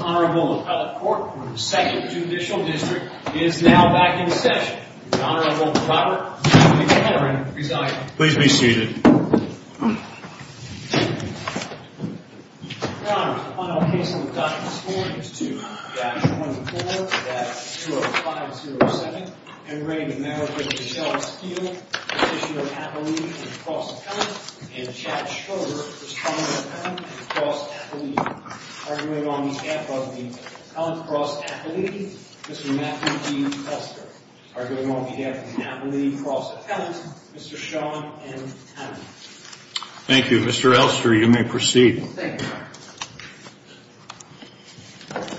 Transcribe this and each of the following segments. Appellate Court for the 2nd Judicial District is now back in session. The Honorable Robert B. Cameron presiding. Please be seated. Your Honor, the final case on the docket this morning is 2-14-20507. Marriage of Michelle Steele. Appellate and cross-appellant. And Chad Schroeder, Respondent Appellant and cross-appellate. Arguing on behalf of the Appellant cross-appellate, Mr. Matthew D. Elster. Arguing on behalf of the Appellate cross-appellant, Mr. Sean M. Townley. Thank you. Mr. Elster, you may proceed. Thank you, Your Honor.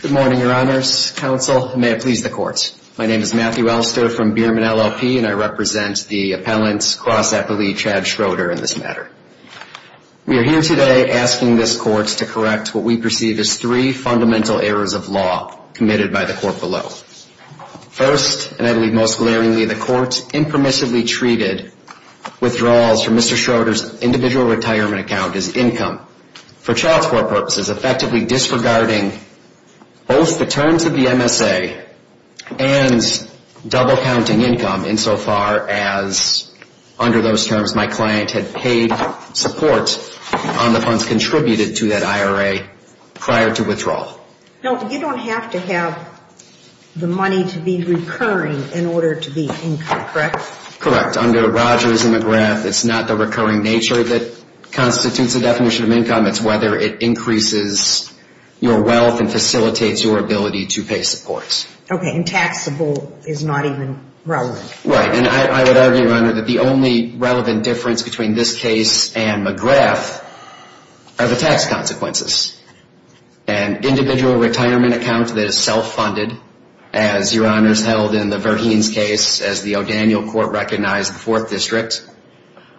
Good morning, Your Honors, Counsel, and may it please the Court. My name is Matthew Elster from Bierman, LLP, and I represent the Appellant cross-appellate Chad Schroeder in this matter. We are here today asking this Court to correct what we perceive as three fundamental errors of law committed by the Court below. First, and I believe most glaringly in the Court, impermissibly treated withdrawals from Mr. Schroeder's individual retirement account as income for child support purposes, effectively disregarding both the terms of the MSA and double-counting income insofar as under those terms my client had paid support on the funds contributed to that IRA prior to withdrawal. No, you don't have to have the money to be recurring in order to be income, correct? Correct. Under Rogers and McGrath, it's not the recurring nature that constitutes a definition of income. It's whether it increases your wealth and facilitates your ability to pay supports. Okay, and taxable is not even relevant. Right, and I would argue, Your Honor, that the only relevant difference between this case and McGrath are the tax consequences. An individual retirement account that is self-funded, as Your Honor has held in the Verheens case as the O'Daniel Court recognized the Fourth District,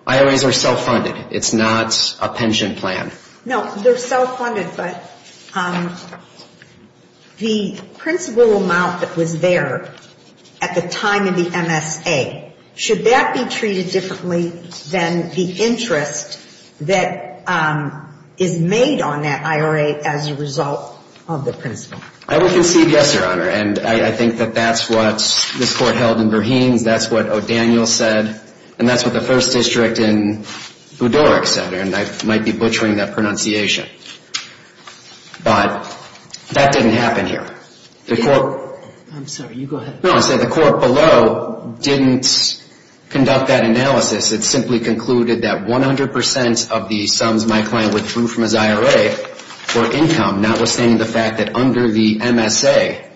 IRAs are self-funded. It's not a pension plan. No, they're self-funded, but the principal amount that was there at the time of the MSA, should that be treated differently than the interest that is made on that IRA as a result of the principal? I would concede yes, Your Honor, and I think that that's what this Court held in Verheens. That's what O'Daniel said, and that's what the First District in Budorek said, and I might be butchering that pronunciation. But that didn't happen here. The Court below didn't conduct that analysis. It simply concluded that 100 percent of the sums my client withdrew from his IRA for income, notwithstanding the fact that under the MSA,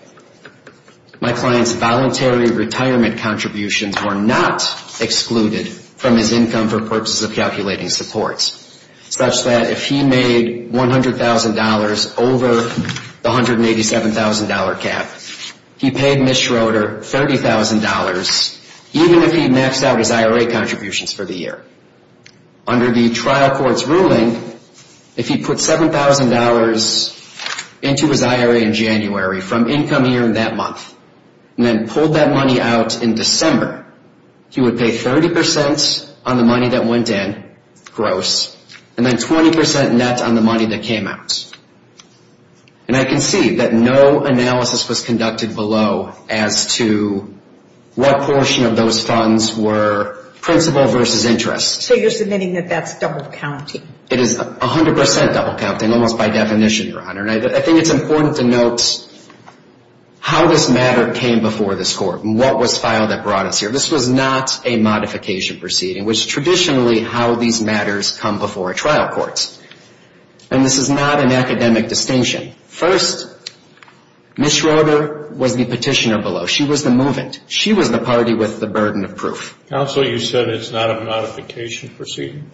my client's voluntary retirement contributions were not excluded from his income for purposes of calculating supports, such that if he made $100,000 over the $187,000 cap, he paid Ms. Schroeder $30,000, even if he maxed out his IRA contributions for the year. Under the trial court's ruling, if he put $7,000 into his IRA in January from income year in that month and pulled that money out in December, he would pay 30 percent on the money that went in, gross, and then 20 percent net on the money that came out. And I concede that no analysis was conducted below as to what portion of those funds were principal versus interest. So you're submitting that that's double counting? It is 100 percent double counting, almost by definition, Your Honor. And I think it's important to note how this matter came before this court and what was filed that brought us here. This was not a modification proceeding, which traditionally how these matters come before a trial court. And this is not an academic distinction. First, Ms. Schroeder was the petitioner below. She was the movement. She was the party with the burden of proof. Counsel, you said it's not a modification proceeding?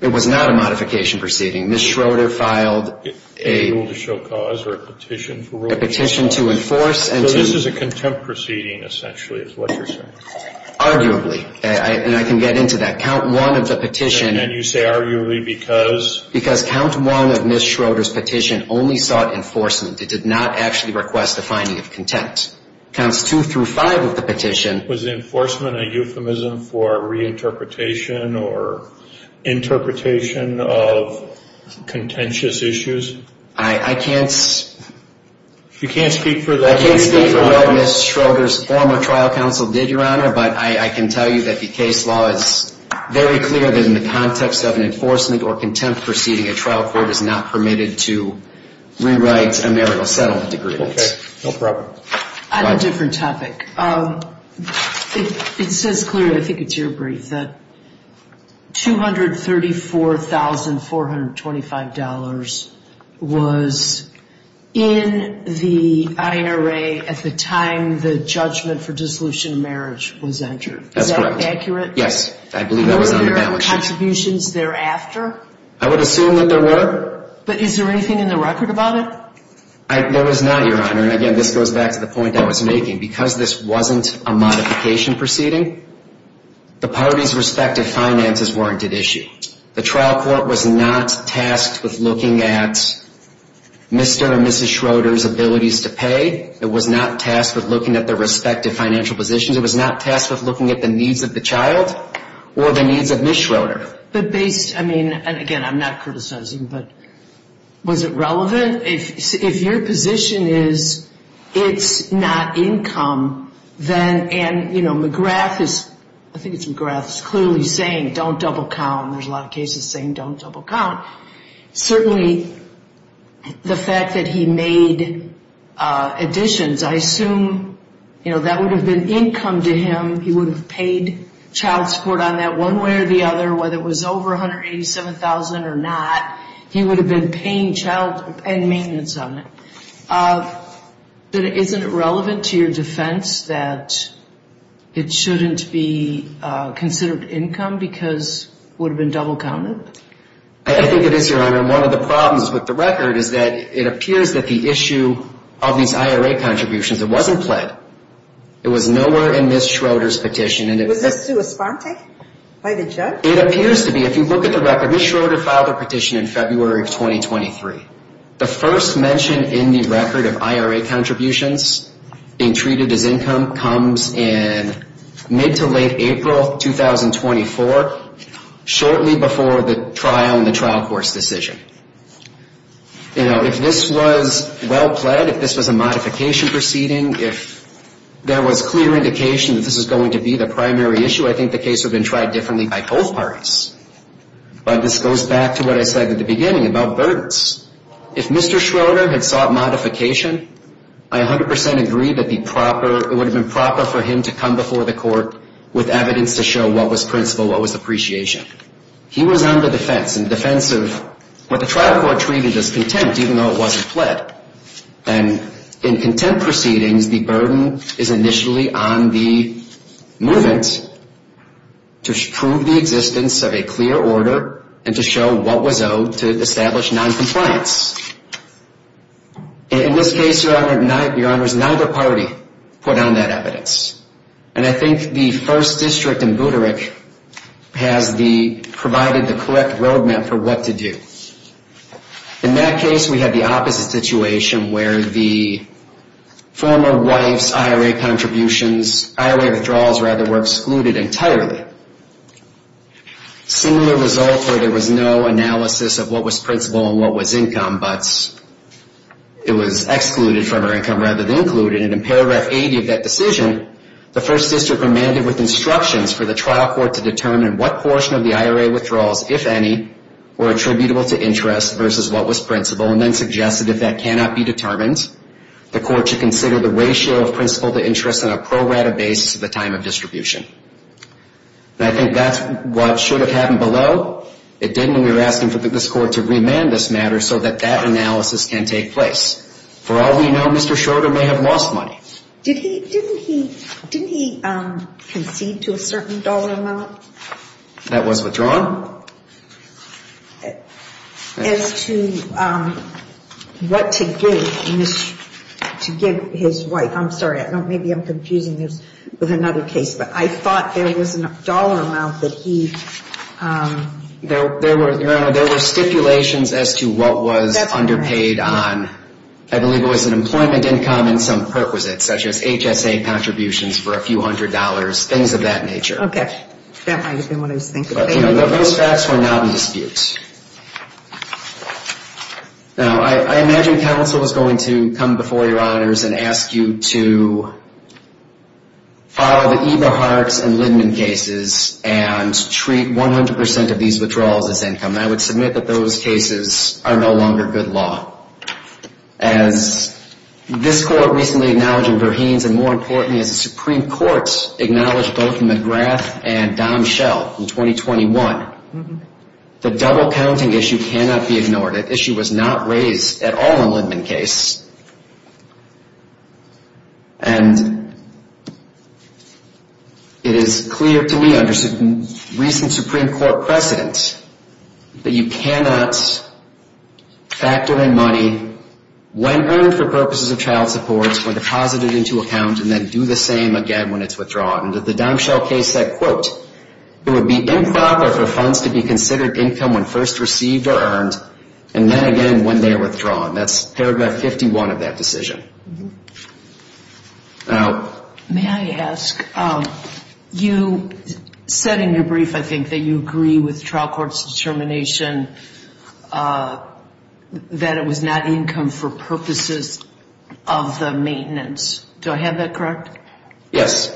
It was not a modification proceeding. Ms. Schroeder filed a rule to show cause or a petition to enforce. So this is a contempt proceeding essentially is what you're saying? Arguably. And I can get into that. Count one of the petition. And you say arguably because? Because count one of Ms. Schroeder's petition only sought enforcement. It did not actually request a finding of contempt. Counts two through five of the petition. Was the enforcement a euphemism for reinterpretation or interpretation of contentious issues? I can't speak for Ms. Schroeder's former trial counsel did, Your Honor. But I can tell you that the case law is very clear that in the context of an enforcement or contempt proceeding, a trial court is not permitted to rewrite a marital settlement agreement. Okay. No problem. On a different topic. It says clearly, I think it's your brief, that $234,425 was in the IRA at the time the judgment for dissolution of marriage was entered. That's correct. Is that accurate? Yes. I believe that was on the balance sheet. I would assume that there were. But is there anything in the record about it? There was not, Your Honor. And again, this goes back to the point I was making. Because this wasn't a modification proceeding, the parties' respective finances weren't at issue. The trial court was not tasked with looking at Mr. and Mrs. Schroeder's abilities to pay. It was not tasked with looking at their respective financial positions. It was not tasked with looking at the needs of the child or the needs of Ms. Schroeder. I mean, and again, I'm not criticizing, but was it relevant? If your position is it's not income, then, you know, McGrath is clearly saying don't double count. There's a lot of cases saying don't double count. Certainly the fact that he made additions, I assume, you know, that would have been income to him. He would have paid child support on that one way or the other, whether it was over $187,000 or not. He would have been paying child and maintenance on it. But isn't it relevant to your defense that it shouldn't be considered income because it would have been double counted? I think it is, Your Honor. One of the problems with the record is that it appears that the issue of these IRA contributions, it wasn't pled. It was nowhere in Ms. Schroeder's petition. Was this to a sponte by the judge? It appears to be. If you look at the record, Ms. Schroeder filed a petition in February of 2023. The first mention in the record of IRA contributions being treated as income comes in mid to late April 2024, shortly before the trial and the trial course decision. You know, if this was well pled, if this was a modification proceeding, if there was clear indication that this was going to be the primary issue, I think the case would have been tried differently by both parties. But this goes back to what I said at the beginning about burdens. If Mr. Schroeder had sought modification, I 100% agree that it would have been proper for him to come before the court with evidence to show what was principle, what was appreciation. He was on the defense. In defense of what the trial court treated as contempt, even though it wasn't pled. In contempt proceedings, the burden is initially on the movement to prove the existence of a clear order and to show what was owed to establish noncompliance. In this case, Your Honor, neither party put on that evidence. And I think the first district in Buttigieg has provided the correct road map for what to do. In that case, we had the opposite situation where the former wife's IRA contributions, IRA withdrawals rather, were excluded entirely. Similar result where there was no analysis of what was principle and what was income, but it was excluded from her income rather than included. And in paragraph 80 of that decision, the first district remanded with instructions for the trial court to determine what portion of the IRA withdrawals, if any, were attributable to interest versus what was principle, and then suggested if that cannot be determined, the court should consider the ratio of principle to interest on a pro rata basis at the time of distribution. And I think that's what should have happened below. It didn't. We were asking for this court to remand this matter so that that analysis can take place. For all we know, Mr. Schroeder may have lost money. Didn't he concede to a certain dollar amount? That was withdrawn. As to what to give his wife. I'm sorry. Maybe I'm confusing this with another case. But I thought there was a dollar amount that he There were stipulations as to what was underpaid on. I believe it was an employment income and some perquisites, such as HSA contributions for a few hundred dollars, things of that nature. Now, I imagine counsel is going to come before your honors and ask you to file the Eberhart and Lindman cases and treat 100 percent of these withdrawals as income. I would submit that those cases are no longer good law. As this court recently acknowledged in Verheens and more importantly, as the Supreme Court acknowledged both McGrath and Dom Schell in 2021, the double counting issue cannot be ignored. That issue was not raised at all in Lindman case. And it is clear to me under recent Supreme Court precedent that you cannot factor in money when earned for purposes of child support when deposited into account and then do the same again when it's withdrawn. And the Dom Schell case said, quote, it would be improper for funds to be considered income when first received or earned and then again when they are withdrawn. That's paragraph 51 of that decision. Now, may I ask, you said in your brief, I think, that you agree with trial court's determination that it was not income for purposes of the maintenance. Do I have that correct? Yes.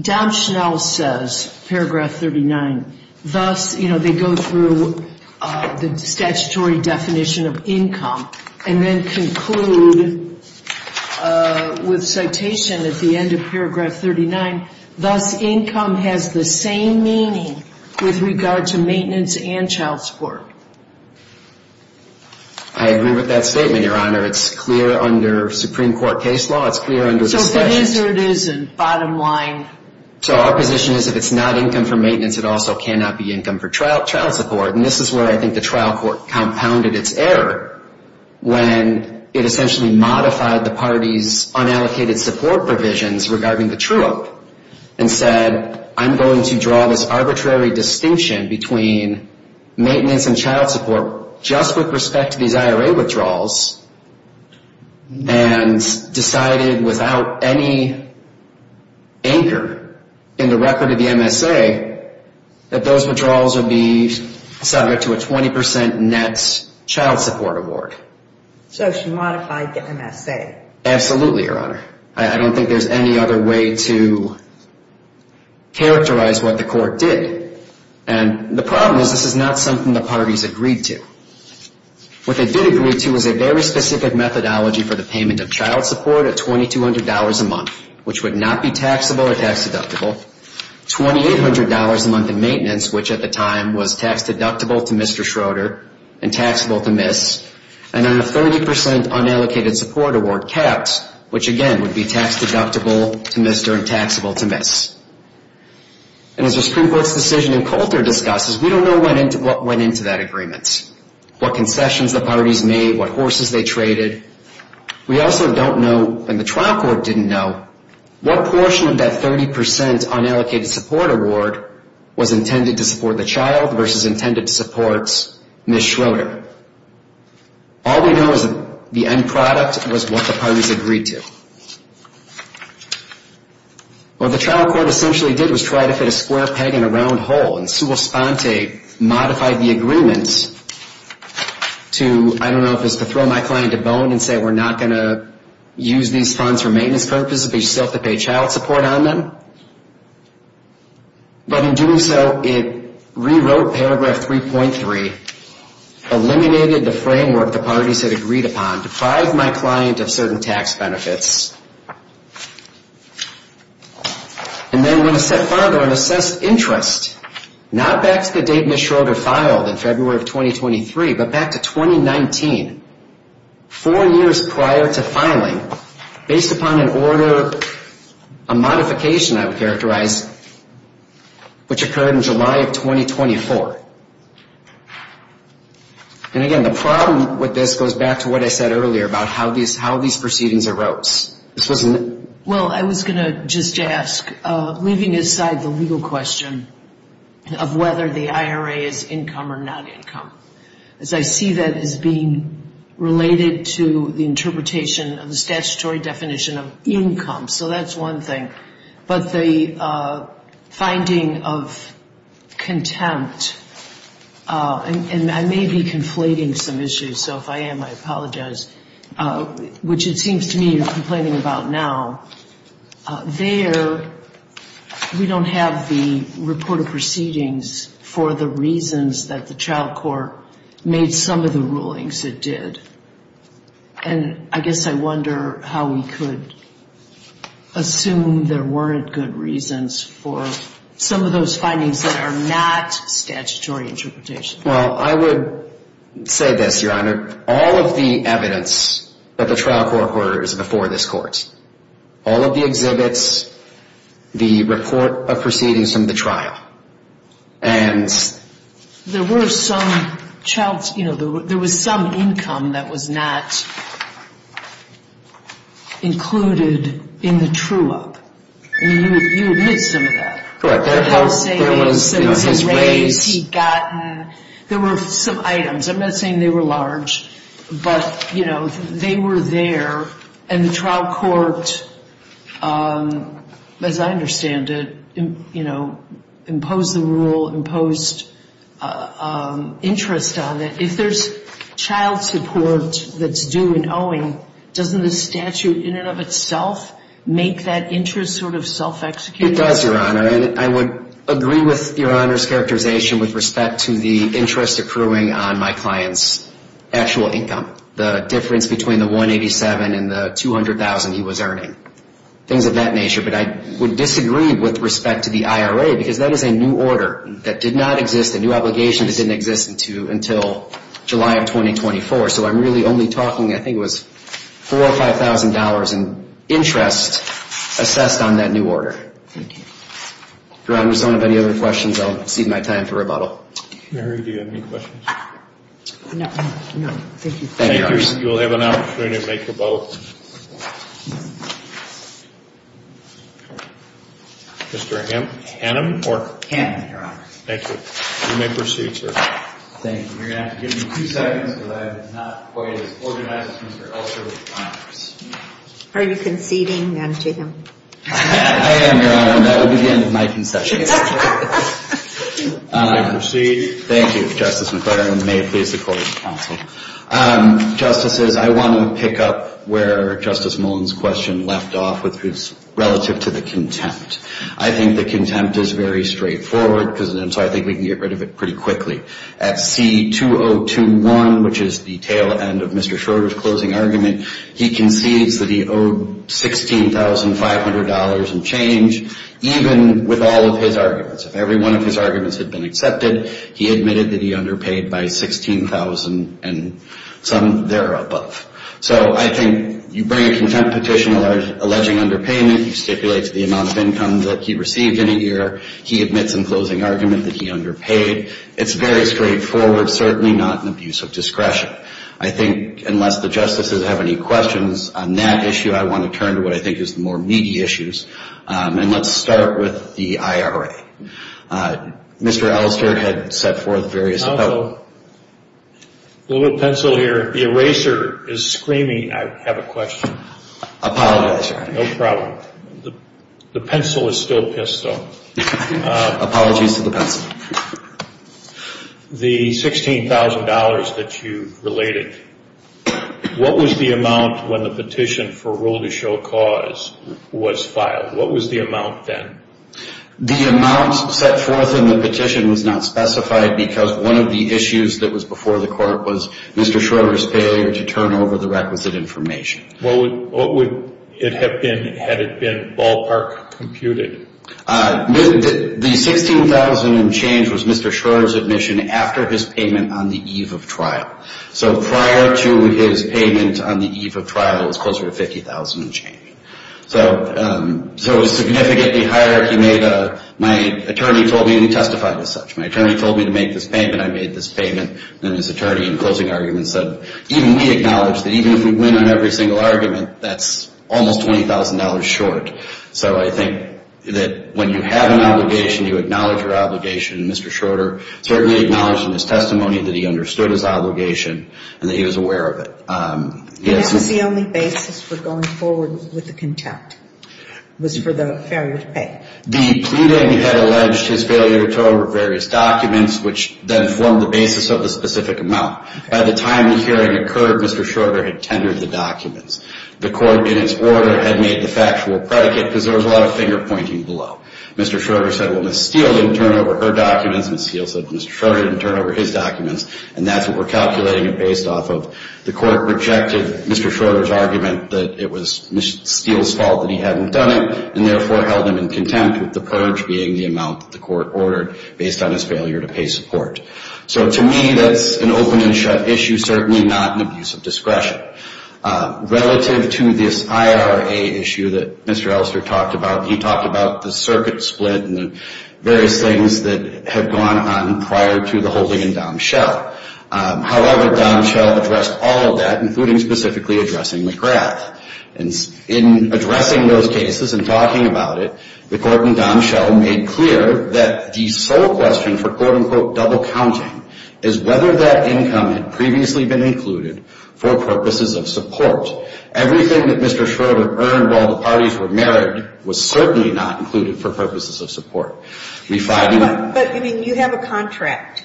Dom Schell says, paragraph 39, thus, you know, they go through the statutory definition of income and then conclude with citation at the end of paragraph 39, thus, income has the same meaning with regard to maintenance and child support. I agree with that statement, Your Honor. It's clear under Supreme Court case law. It's clear under discussion. So what is or isn't bottom line? So our position is if it's not income for maintenance, it also cannot be income for trial support. And this is where I think the trial court compounded its error when it essentially modified the party's unallocated support provisions regarding the true-up and said, I'm going to draw this arbitrary distinction between maintenance and child support just with respect to these IRA withdrawals and decided without any anchor in the record of the MSA that those withdrawals would be subject to a 20% net child support award. So she modified the MSA. Absolutely, Your Honor. I don't think there's any other way to characterize what the court did. And the problem is this is not something the parties agreed to. What they did agree to was a very specific methodology for the payment of child support at $2,200 a month, which would not be taxable or tax deductible, $2,800 a month in maintenance, which at the time was tax deductible to Mr. Schroeder and taxable to Ms., and then a 30% unallocated support award capped, which again would be tax deductible to Mr. and taxable to Ms. And as the Supreme Court's decision in Coulter discusses, we don't know what went into that agreement, what concessions the parties made, what horses they traded. We also don't know, and the trial court didn't know, what portion of that 30% unallocated support award was intended to support the child versus intended to support Ms. Schroeder. All we know is that the end product was what the parties agreed to. What the trial court essentially did was try to fit a square peg in a round hole, and sua sponte modified the agreement to, I don't know if it was to throw my client to bone and say we're not going to use these funds for maintenance purposes, but you still have to pay child support on them. But in doing so, it rewrote paragraph 3.3, eliminated the framework the parties had agreed upon, defied my client of certain tax benefits, and then went a step further and assessed interest, not back to the date Ms. Schroeder filed in February of 2023, but back to 2019, four years prior to filing, based upon an order, a modification I would characterize, which occurred in July of 2024. And again, the problem with this goes back to what I said earlier about how these proceedings arose. This wasn't... Well, I was going to just ask, leaving aside the legal question of whether the IRA is income or not income, as I see that as being related to the interpretation of the statutory definition of income, so that's one thing. But the finding of contempt, and I may be conflating some issues, so if I am, I apologize, which it seems to me you're complaining about now. There, we don't have the report of proceedings for the reasons that the child court made some of the rulings it did. And I guess I wonder how we could assume there weren't good reasons for some of those findings that are not statutory interpretation. Well, I would say this, Your Honor. All of the evidence that the trial court ordered is before this Court. All of the exhibits, the report of proceedings from the trial, and... There were some income that was not included in the true-up. You admit some of that. Correct. There was his raise, he'd gotten... There were some items. I'm not saying they were large, but they were there. And the trial court, as I understand it, imposed the rule, imposed interest on it. If there's child support that's due in owing, doesn't the statute in and of itself make that interest sort of self-executed? It does, Your Honor. I would agree with Your Honor's characterization with respect to the interest accruing on my client's actual income, the difference between the 187 and the 200,000 he was earning, things of that nature. But I would disagree with respect to the IRA, because that is a new order that did not exist, a new obligation that didn't exist until July of 2024. So I'm really only talking, I think it was $4,000 or $5,000 in interest assessed on that new order. Thank you. Your Honor, if someone has any other questions, I'll cede my time for rebuttal. Mary, do you have any questions? No. No. Thank you. Thank you. You will have an opportunity to make your vote. Mr. Hannum, or? Hannum, Your Honor. Thank you. You may proceed, sir. Thank you. You're going to have to give me two seconds, because I am not quite as organized as Mr. Elster. Are you conceding, then, to him? I am, Your Honor, and that would begin my concessions. You may proceed. Thank you, Justice McClaren. May it please the Court, counsel. Justices, I want to pick up where Justice Mullen's question left off with his relative to the contempt. I think the contempt is very straightforward, so I think we can get rid of it pretty quickly. At C-202-1, which is the tail end of Mr. Schroeder's closing argument, he concedes that he owed $16,500 in change, even with all of his arguments. If every one of his arguments had been accepted, he admitted that he underpaid by $16,000 and some thereabove. So I think you bring a contempt petition alleging underpayment, you stipulate the amount of income that he received in a year, he admits in closing argument that he underpaid. It's very straightforward, certainly not an abuse of discretion. I think, unless the Justices have any questions on that issue, I want to turn to what I think is the more meaty issues. Let's start with the IRA. Mr. Elster had set forth various... Counsel, a little bit of pencil here. The eraser is screaming. I have a question. Apologize, Your Honor. No problem. The pencil is still pissed, though. Apologies to the pencil. The $16,000 that you related, what was the amount when the petition for rule to show cause was filed? What was the amount then? The amount set forth in the petition was not specified because one of the issues that was before the court was Mr. Schroeder's failure to turn over the requisite information. What would it have been had it been ballpark computed? The $16,000 in change was Mr. Schroeder's admission after his payment on the eve of trial. So prior to his payment on the eve of trial, it was closer to $50,000 in change. So it was significantly higher. My attorney told me, and he testified as such, my attorney told me to make this payment. I made this payment. Then his attorney in closing argument said, even we win on every single argument, that's almost $20,000 short. So I think that when you have an obligation, you acknowledge your obligation. Mr. Schroeder certainly acknowledged in his testimony that he understood his obligation and that he was aware of it. And this was the only basis for going forward with the contempt, was for the failure to pay? The pleading had alleged his failure to turn over various documents, which then formed the basis of the specific amount. By the time the hearing occurred, Mr. Schroeder had tendered the documents. The court, in its order, had made the factual predicate because there was a lot of finger pointing below. Mr. Schroeder said, well, Ms. Steele didn't turn over her documents. Ms. Steele said that Mr. Schroeder didn't turn over his documents. And that's what we're calculating it based off of. The court rejected Mr. Schroeder's argument that it was Ms. Steele's fault that he hadn't done it, and therefore held him in contempt with the purge being the amount that the court ordered based on his failure to pay support. So to me, that's an open and shut issue, certainly not an abuse of discretion. Relative to this IRA issue that Mr. Elster talked about, he talked about the circuit split and the various things that have gone on prior to the holding in Domshell. However, Domshell addressed all of that, including specifically addressing McGrath. In addressing those cases and talking about it, the court in Domshell made clear that the sole question for, quote, unquote, double counting is whether that income had previously been included for purposes of support. Everything that Mr. Schroeder earned while the parties were married was certainly not included for purposes of support. Refining that. But, I mean, you have a contract.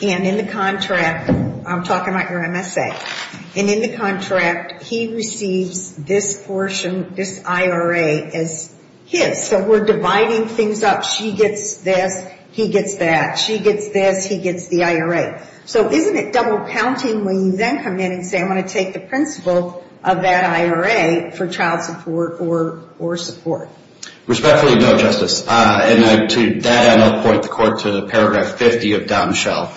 And in the contract, I'm talking about your MSA. And in the contract, he receives this portion, this IRA as his. So we're dividing things up. She gets this, he gets that. She gets this, he gets the IRA. So isn't it double counting when you then come in and say, I want to take the principle of that IRA for child support or support? Respectfully, no, Justice. And to that end, I'll point the court to paragraph 50 of Domshell.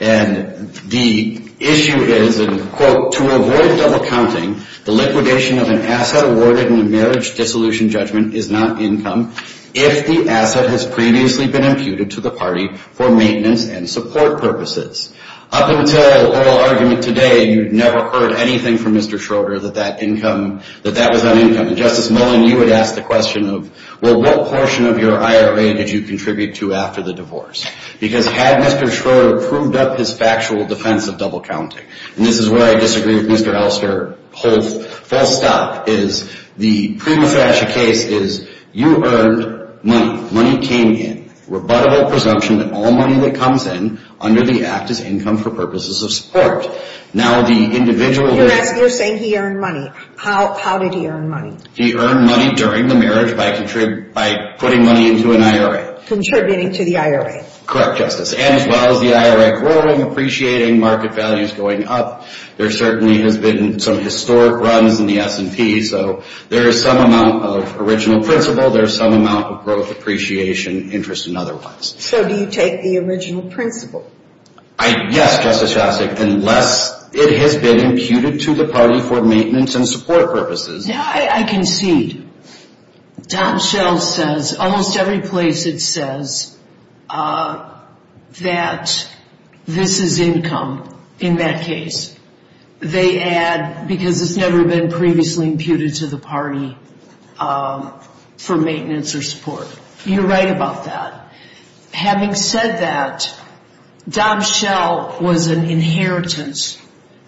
And the issue is, quote, to avoid double counting, the liquidation of an asset awarded in a marriage dissolution judgment is not income if the asset has previously been imputed to the party for maintenance and support purposes. Up until oral argument today, you'd never heard anything from Mr. Schroeder that that income, that that was not income. And Justice Mullen, you would ask the question of, well, what portion of your IRA did you contribute to after the divorce? Because had Mr. Schroeder proved up his factual defense of double counting, and this is where I disagree with Mr. Elster. False stop is the pre-Massachusetts case is you earned money. Money came in. Rebuttable presumption that all money that comes in under the act is income for purposes of support. Now the individual You're saying he earned money. How did he earn money? He earned money during the marriage by putting money into an IRA. Contributing to the IRA. Correct, Justice. And as well as the IRA growing, appreciating market values going up. There certainly has been some historic runs in the S&P. So there is some amount of original principle. There is some amount of growth, appreciation, interest, and otherwise. So do you take the original principle? Yes, Justice Jasek, unless it has been imputed to the party for maintenance and support purposes. Now I concede. Tom Schell says, almost every place it says that this is income in that case. They add that because it's never been previously imputed to the party for maintenance or support. You're right about that. Having said that, Tom Schell was an inheritance.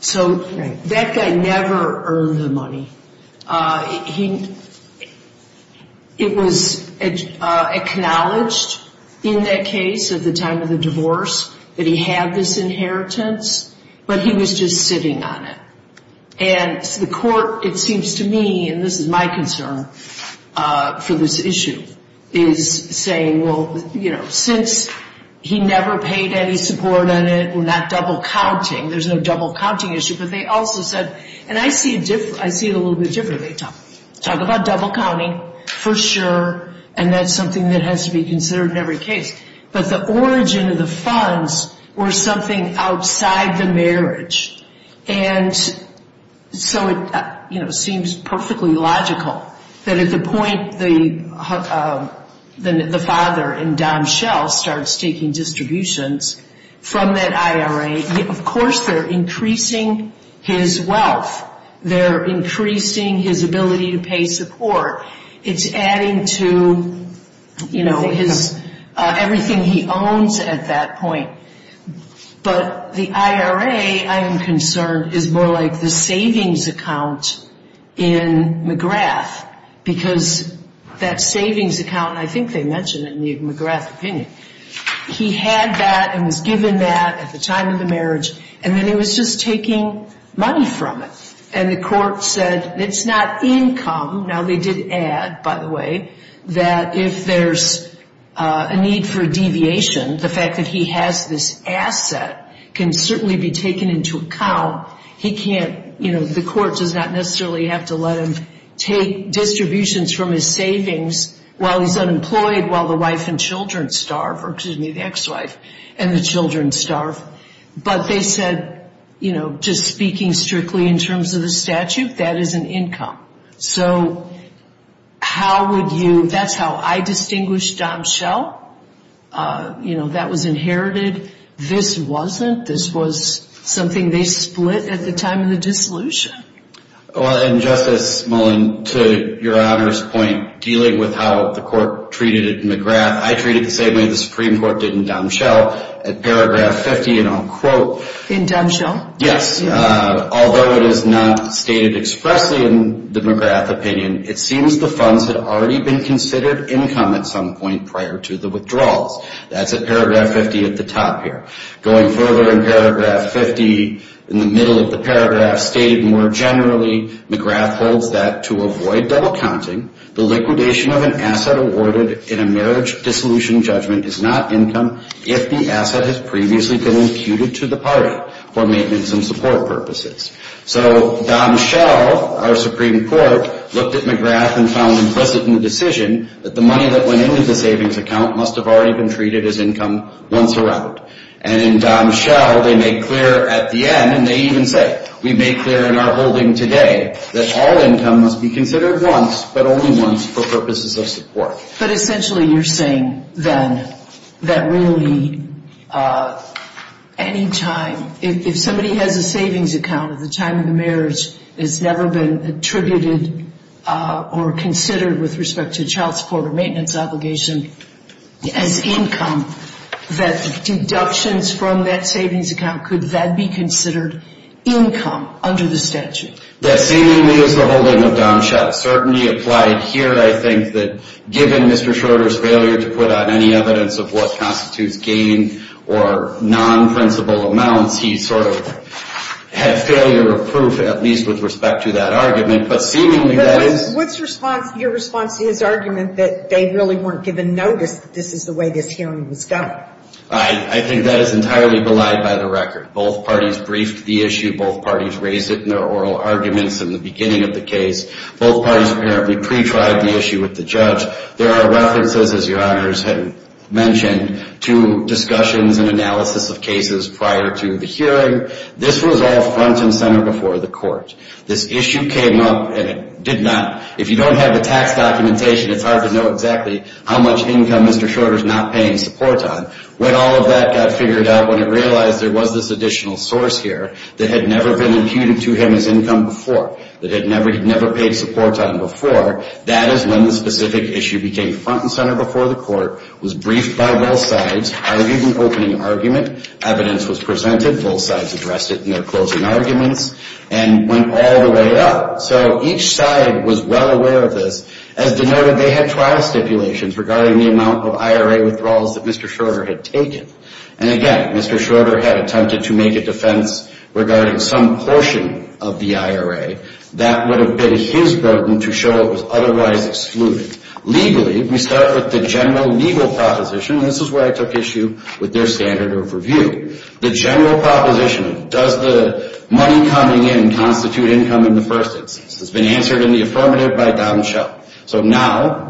So that guy never earned the money. It was acknowledged in that case at the time of the divorce that he had this inheritance, but he was just sitting on it. And the court, it seems to me, and this is my concern for this issue, is saying, well, you know, since he never paid any support on it, well, not double counting. There's no double counting issue. But they also said, and I see it a little bit differently. They talk about double counting for sure and that's something that has to be considered in every case. But the origin of the funds were something outside the marriage. And so it seems perfectly logical that at the point the father in Tom Schell starts taking distributions from that IRA, of course they're increasing his wealth. They're increasing his ability to pay support. It's adding to everything he owns at that point. But the IRA, I am concerned, is more like the savings account in McGrath because that savings account, and I think they mentioned it in McGrath's opinion, he had that and was given that at the time of the marriage and then he was just taking money from it. And the court said it's not income. Now, they did add, by the way, that if there's a need for a deviation, the fact that he has this asset can certainly be taken into account. He can't, you know, the court does not necessarily have to let him take distributions from his savings while he's unemployed while the wife and children starve, or excuse me, the ex-wife and the children starve. But they said, you know, just speaking strictly in terms of the statute, that is an income. So how would you, that's how I distinguish Tom Schell. You know, that was inherited. This wasn't. This was something they split at the time of the dissolution. Well, and Justice Mullin, to your Honor's point, dealing with how the court treated McGrath, I treat it the same way the Supreme Court did in Don Schell. At paragraph 50, and I'll quote. In Don Schell? Yes. Although it is not stated expressly in the McGrath opinion, it seems the funds had already been considered income at some point prior to the withdrawals. That's at paragraph 50 at the top here. Going further in paragraph 50, in the middle of the paragraph, stated more generally, McGrath holds that to avoid double counting, the liquidation of an asset awarded in a marriage dissolution judgment is not income if the asset has previously been imputed to the party for maintenance and support purposes. So Don Schell, our Supreme Court, looked at McGrath and found implicit in the decision that the money that went into the savings account must have already been treated as income once around. And in Don Schell, they made clear at the end, and they even say, we made clear in our holding today, that all income must be considered once, but only once for purposes of support. But essentially you're saying then that really any time, if somebody has a savings account at the time of the marriage, has never been attributed or considered with respect to child support or maintenance obligation as income, that deductions from that savings account, could that be considered income under the statute? That seemingly is the holding of Don Schell. Certainty applied here, I think, that given Mr. Schroeder's failure to put out any evidence of what constitutes gain or non-principal amounts, he sort of had failure of proof, at least with respect to that argument. But seemingly that is... But what's your response to his argument that they really weren't given notice that this is the way this hearing was going? I think that is entirely belied by the record. Both parties briefed the issue. Both parties raised it in their oral arguments in the beginning of the case. Both parties apparently pre-tried the issue with the judge. There are references, as your honors had mentioned, to discussions and analysis of cases prior to the hearing. This was all front and center before the court. This issue came up, and it did not... If you don't have the tax documentation, it's hard to know exactly how much income Mr. Schroeder's not paying support on. When all of that got figured out, when it realized there was this additional source here that had never been imputed to him as income before, that he had never paid support on before, that is when the specific issue became front and center before the court, was briefed by both sides, argued an opening argument, evidence was presented, both sides addressed it in their closing arguments, and went all the way up. So each side was well aware of this. As denoted, they had trial stipulations regarding the amount of IRA withdrawals that Mr. Schroeder had taken. And again, Mr. Schroeder had attempted to make a defense regarding some portion of the IRA that would have been his burden to show it was otherwise excluded. Legally, we start with the general legal proposition, and this is where I took issue with their standard of review. The general proposition of does the money coming in constitute income in the first instance has been answered in the affirmative by Don Schell. So now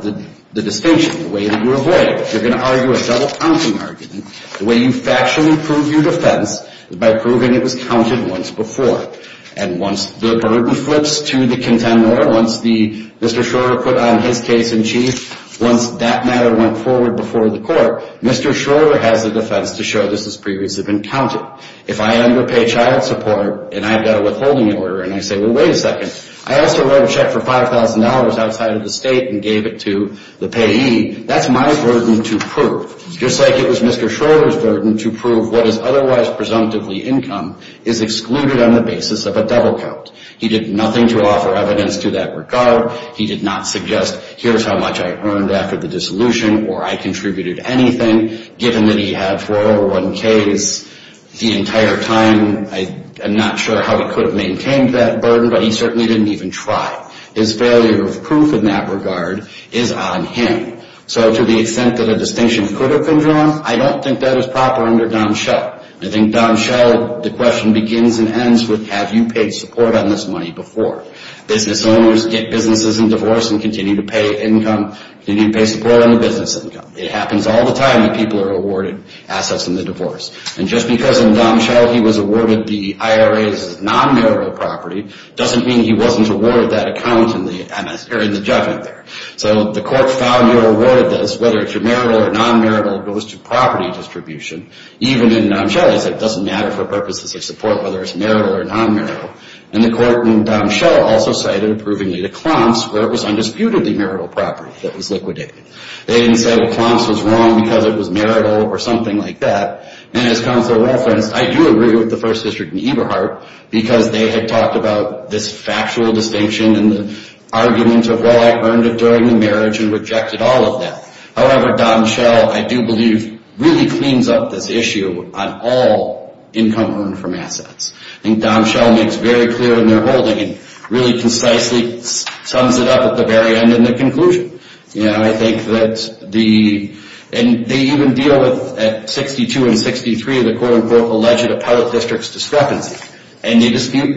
the distinction, the way that you avoid it, you're going to argue a double-counting argument. The way you factually prove your defense is by proving it was counted once before. And once the burden flips to the contender, once Mr. Schroeder put on his case in chief, once that matter went forward before the court, Mr. Schroeder has the defense to show this has previously been counted. If I am to pay child support, and I've got a withholding order, and I say, well, wait a second, I also wrote a check for $5,000 outside of the state and gave it to the payee, that's my burden to prove. Just like it was Mr. Schroeder's burden to prove what is otherwise presumptively income is excluded on the basis of a double-count. He did nothing to offer evidence to that regard. He did not suggest, here's how much I earned after the dissolution, or I contributed anything, given that he had four over one k's the entire time. I'm not sure how he could have maintained that burden, but he certainly didn't even try. His failure of proof in that regard is on him. So to the extent that a distinction could have been drawn, I don't think that is proper under Dom Schell. I think Dom Schell, the question begins and ends with, have you paid support on this money before? Business owners get businesses in divorce and continue to pay income, continue to pay support on the basis of a double-count. If in Dom Schell he was awarded the IRA as non-marital property, doesn't mean he wasn't awarded that account in the judgment there. So the court found you were awarded this, whether it's your marital or non-marital, it goes to property distribution. Even in Dom Schell, it doesn't matter for purposes of support whether it's marital or non-marital. And the court in Dom Schell also cited approvingly to Klomps where it was undisputedly marital property that was liquidated. They didn't say, well, Klomps was wrong because it was marital or something like that. And as counsel of all friends, I do agree with the First District and Eberhardt because they had talked about this factual distinction and the argument of, well, I earned it during the marriage and rejected all of that. However, Dom Schell, I do believe, really cleans up this issue on all income earned from assets. I think Dom Schell makes very clear in their holding and really concisely sums it up at the very end in the conclusion. I think that the, and they even deal with, at 62 and 63, the quote unquote alleged appellate district's discrepancy. And they dispel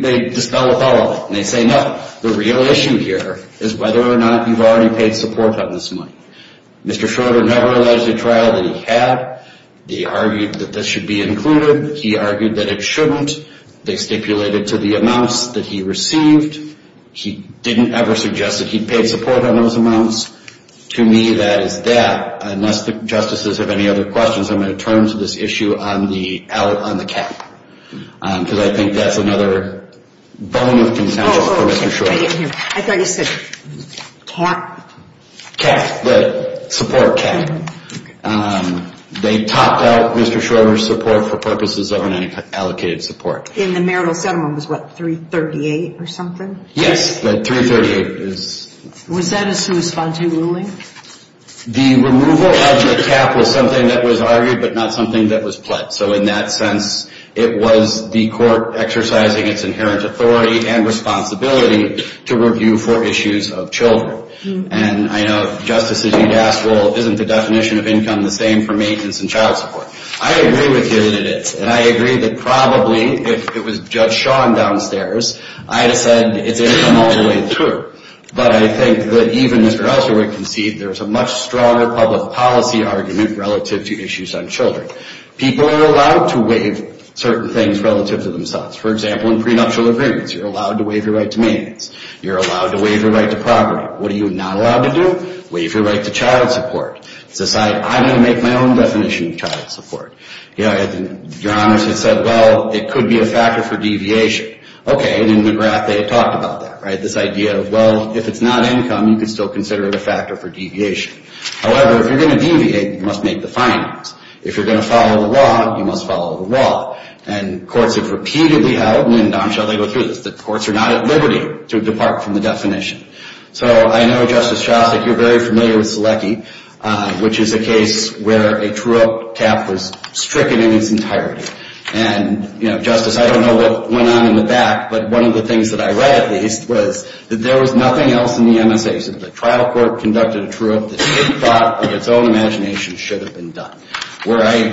the following. They say, no, the real issue here is whether or not you've already paid support on this money. Mr. Schroeder never alleged a trial that he had. They argued that this should be concluded. He argued that it shouldn't. They stipulated to the amounts that he received. He didn't ever suggest that he paid support on those amounts. To me, that is that. Unless the justices have any other questions, I'm going to turn to this issue on the, out on the cap. Because I think that's another bone of contention for Mr. Schroeder. Oh, okay. I didn't hear. I thought you said talk. Cap, the support cap. They topped out Mr. Schroeder's support for purposes of an allocated support. In the marital settlement, it was what, 338 or something? Yes, the 338 is. Was that a sui sponte ruling? The removal of the cap was something that was argued, but not something that was pled. So in that sense, it was the court exercising its inherent authority and responsibility to review for issues of children. And I know justices need to ask, well, isn't the definition of income the same for maintenance and child support? I agree with you that it is. And I agree that probably, if it was Judge Sean downstairs, I'd have said it's income all the way through. But I think that even Mr. Elser would concede there's a much stronger public policy argument relative to issues on children. People are allowed to waive certain things relative to themselves. For example, in prenuptial agreements, you're allowed to waive your right to maintenance. You're allowed to waive your right to property. What are you not allowed to do? Waive your right to child support. Society, I'm going to make my own definition of child support. Your Honor said, well, it could be a factor for deviation. Okay, and in McGrath, they had talked about that, right? This idea of, well, if it's not income, you can still consider it a factor for deviation. However, if you're going to deviate, you must make the findings. If you're going to follow the law, you must follow the law. And courts have repeatedly held, and in Damm shall they go through this, that courts are not at liberty to depart from the definition. So I know, Justice Shostak, you're very familiar with Selecki, which is a case where a true cap was stricken in its entirety. And, you know, Justice, I don't know what went on in the back, but one of the things that I read, at least, was that there was nothing else in the MSA. The trial court conducted a truant that it thought, in its own imagination, should have been done. Where I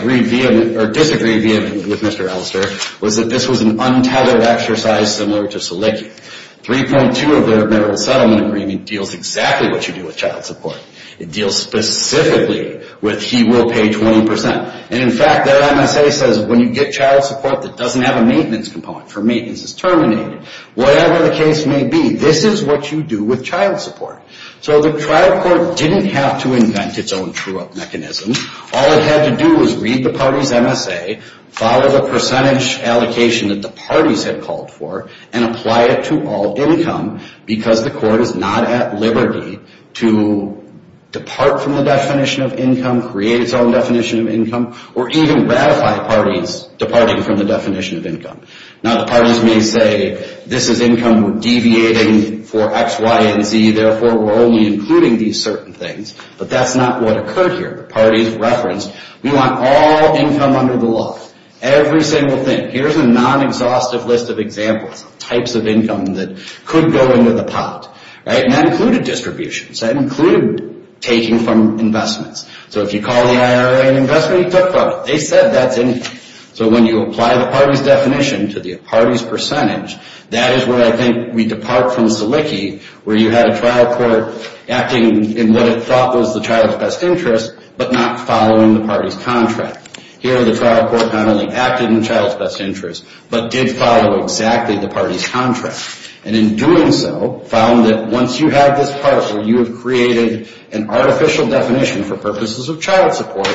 disagree with Mr. Elster was that this was an untethered exercise similar to Selecki. 3.2 of the Remittal Settlement Agreement deals exactly what you do with child support. It deals specifically with he will pay 20%. And, in fact, their MSA says when you get child support that doesn't have a maintenance component for maintenance is terminated. Whatever the case may be, this is what you do with child support. So the trial court didn't have to invent its own true-up mechanism. All it had to do was read the party's MSA, follow the percentage allocation that the parties had called for, and apply it to all income because the court is not at liberty to depart from the definition of income, create its own definition of income, or even ratify parties departing from the definition of income. Now, the parties may say, this is income we're deviating for X, Y, and Z. Therefore, we're only including these certain things. But that's not what occurred here. The parties referenced, we want all income under the law. Every single thing. Here's a non-exhaustive list of examples of types of income that could go into the pot. And that included distributions. That included taking from investments. So if you call the IRA an investment, you took from it. They said that's income. So when you apply the party's definition to the party's percentage, that is where I think we depart from Selicki, where you had a trial court acting in what it thought was the child's best interest, but not following the party's contract. Here, the trial court not only acted in the child's best interest, but did follow exactly the party's contract. And in doing so, found that once you have this part where you have created an artificial definition for purposes of child support,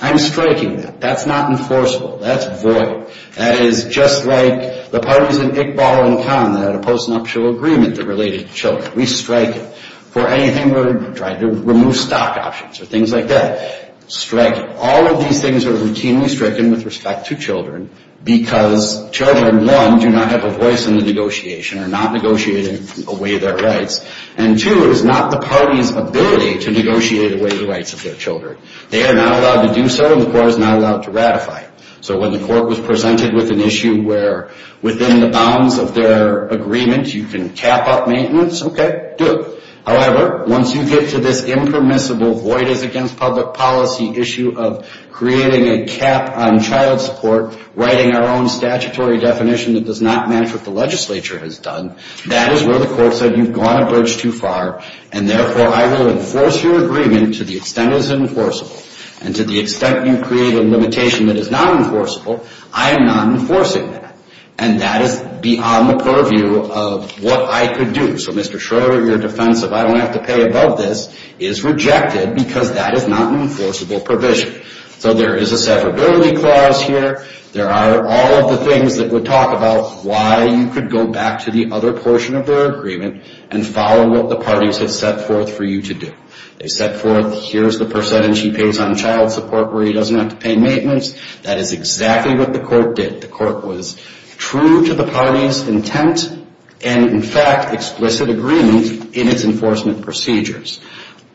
I'm striking that. That's not enforceable. That's void. That is just like the parties in Iqbal and Khan that had a post-nuptial agreement that related to children. We strike it. For anything where we're trying to remove stock options or things like that, strike it. All of these things are routinely stricken with respect to children because children, one, do not have a voice in the negotiation, are not negotiating away their rights. And two, it is not the party's ability to negotiate away the rights of their children. They are not allowed to do so, and the court is not allowed to ratify. So when the court was presented with an issue where within the bounds of their agreement you can cap up maintenance, okay, do it. However, once you get to this impermissible void is against public policy issue of creating a cap on child support, writing our own statutory definition that does not match what the legislature has done, that is where the court said you've gone a bridge too far, and therefore I will enforce your agreement to the extent it is enforceable. And to the extent you create a limitation that is not enforceable, I am not enforcing that. And that is beyond the purview of what I could do. So, Mr. Schroeder, your defense of I don't have to pay above this is rejected because that is not an enforceable provision. So there is a severability clause here. There are all of the things that would talk about why you could go back to the other portion of their agreement and follow what the parties have set forth for you to do. They set forth here's the percentage he pays on child support where he doesn't have to pay maintenance. That is exactly what the court did. The court was true to the parties' intent and, in fact, explicit agreement in its enforcement procedures.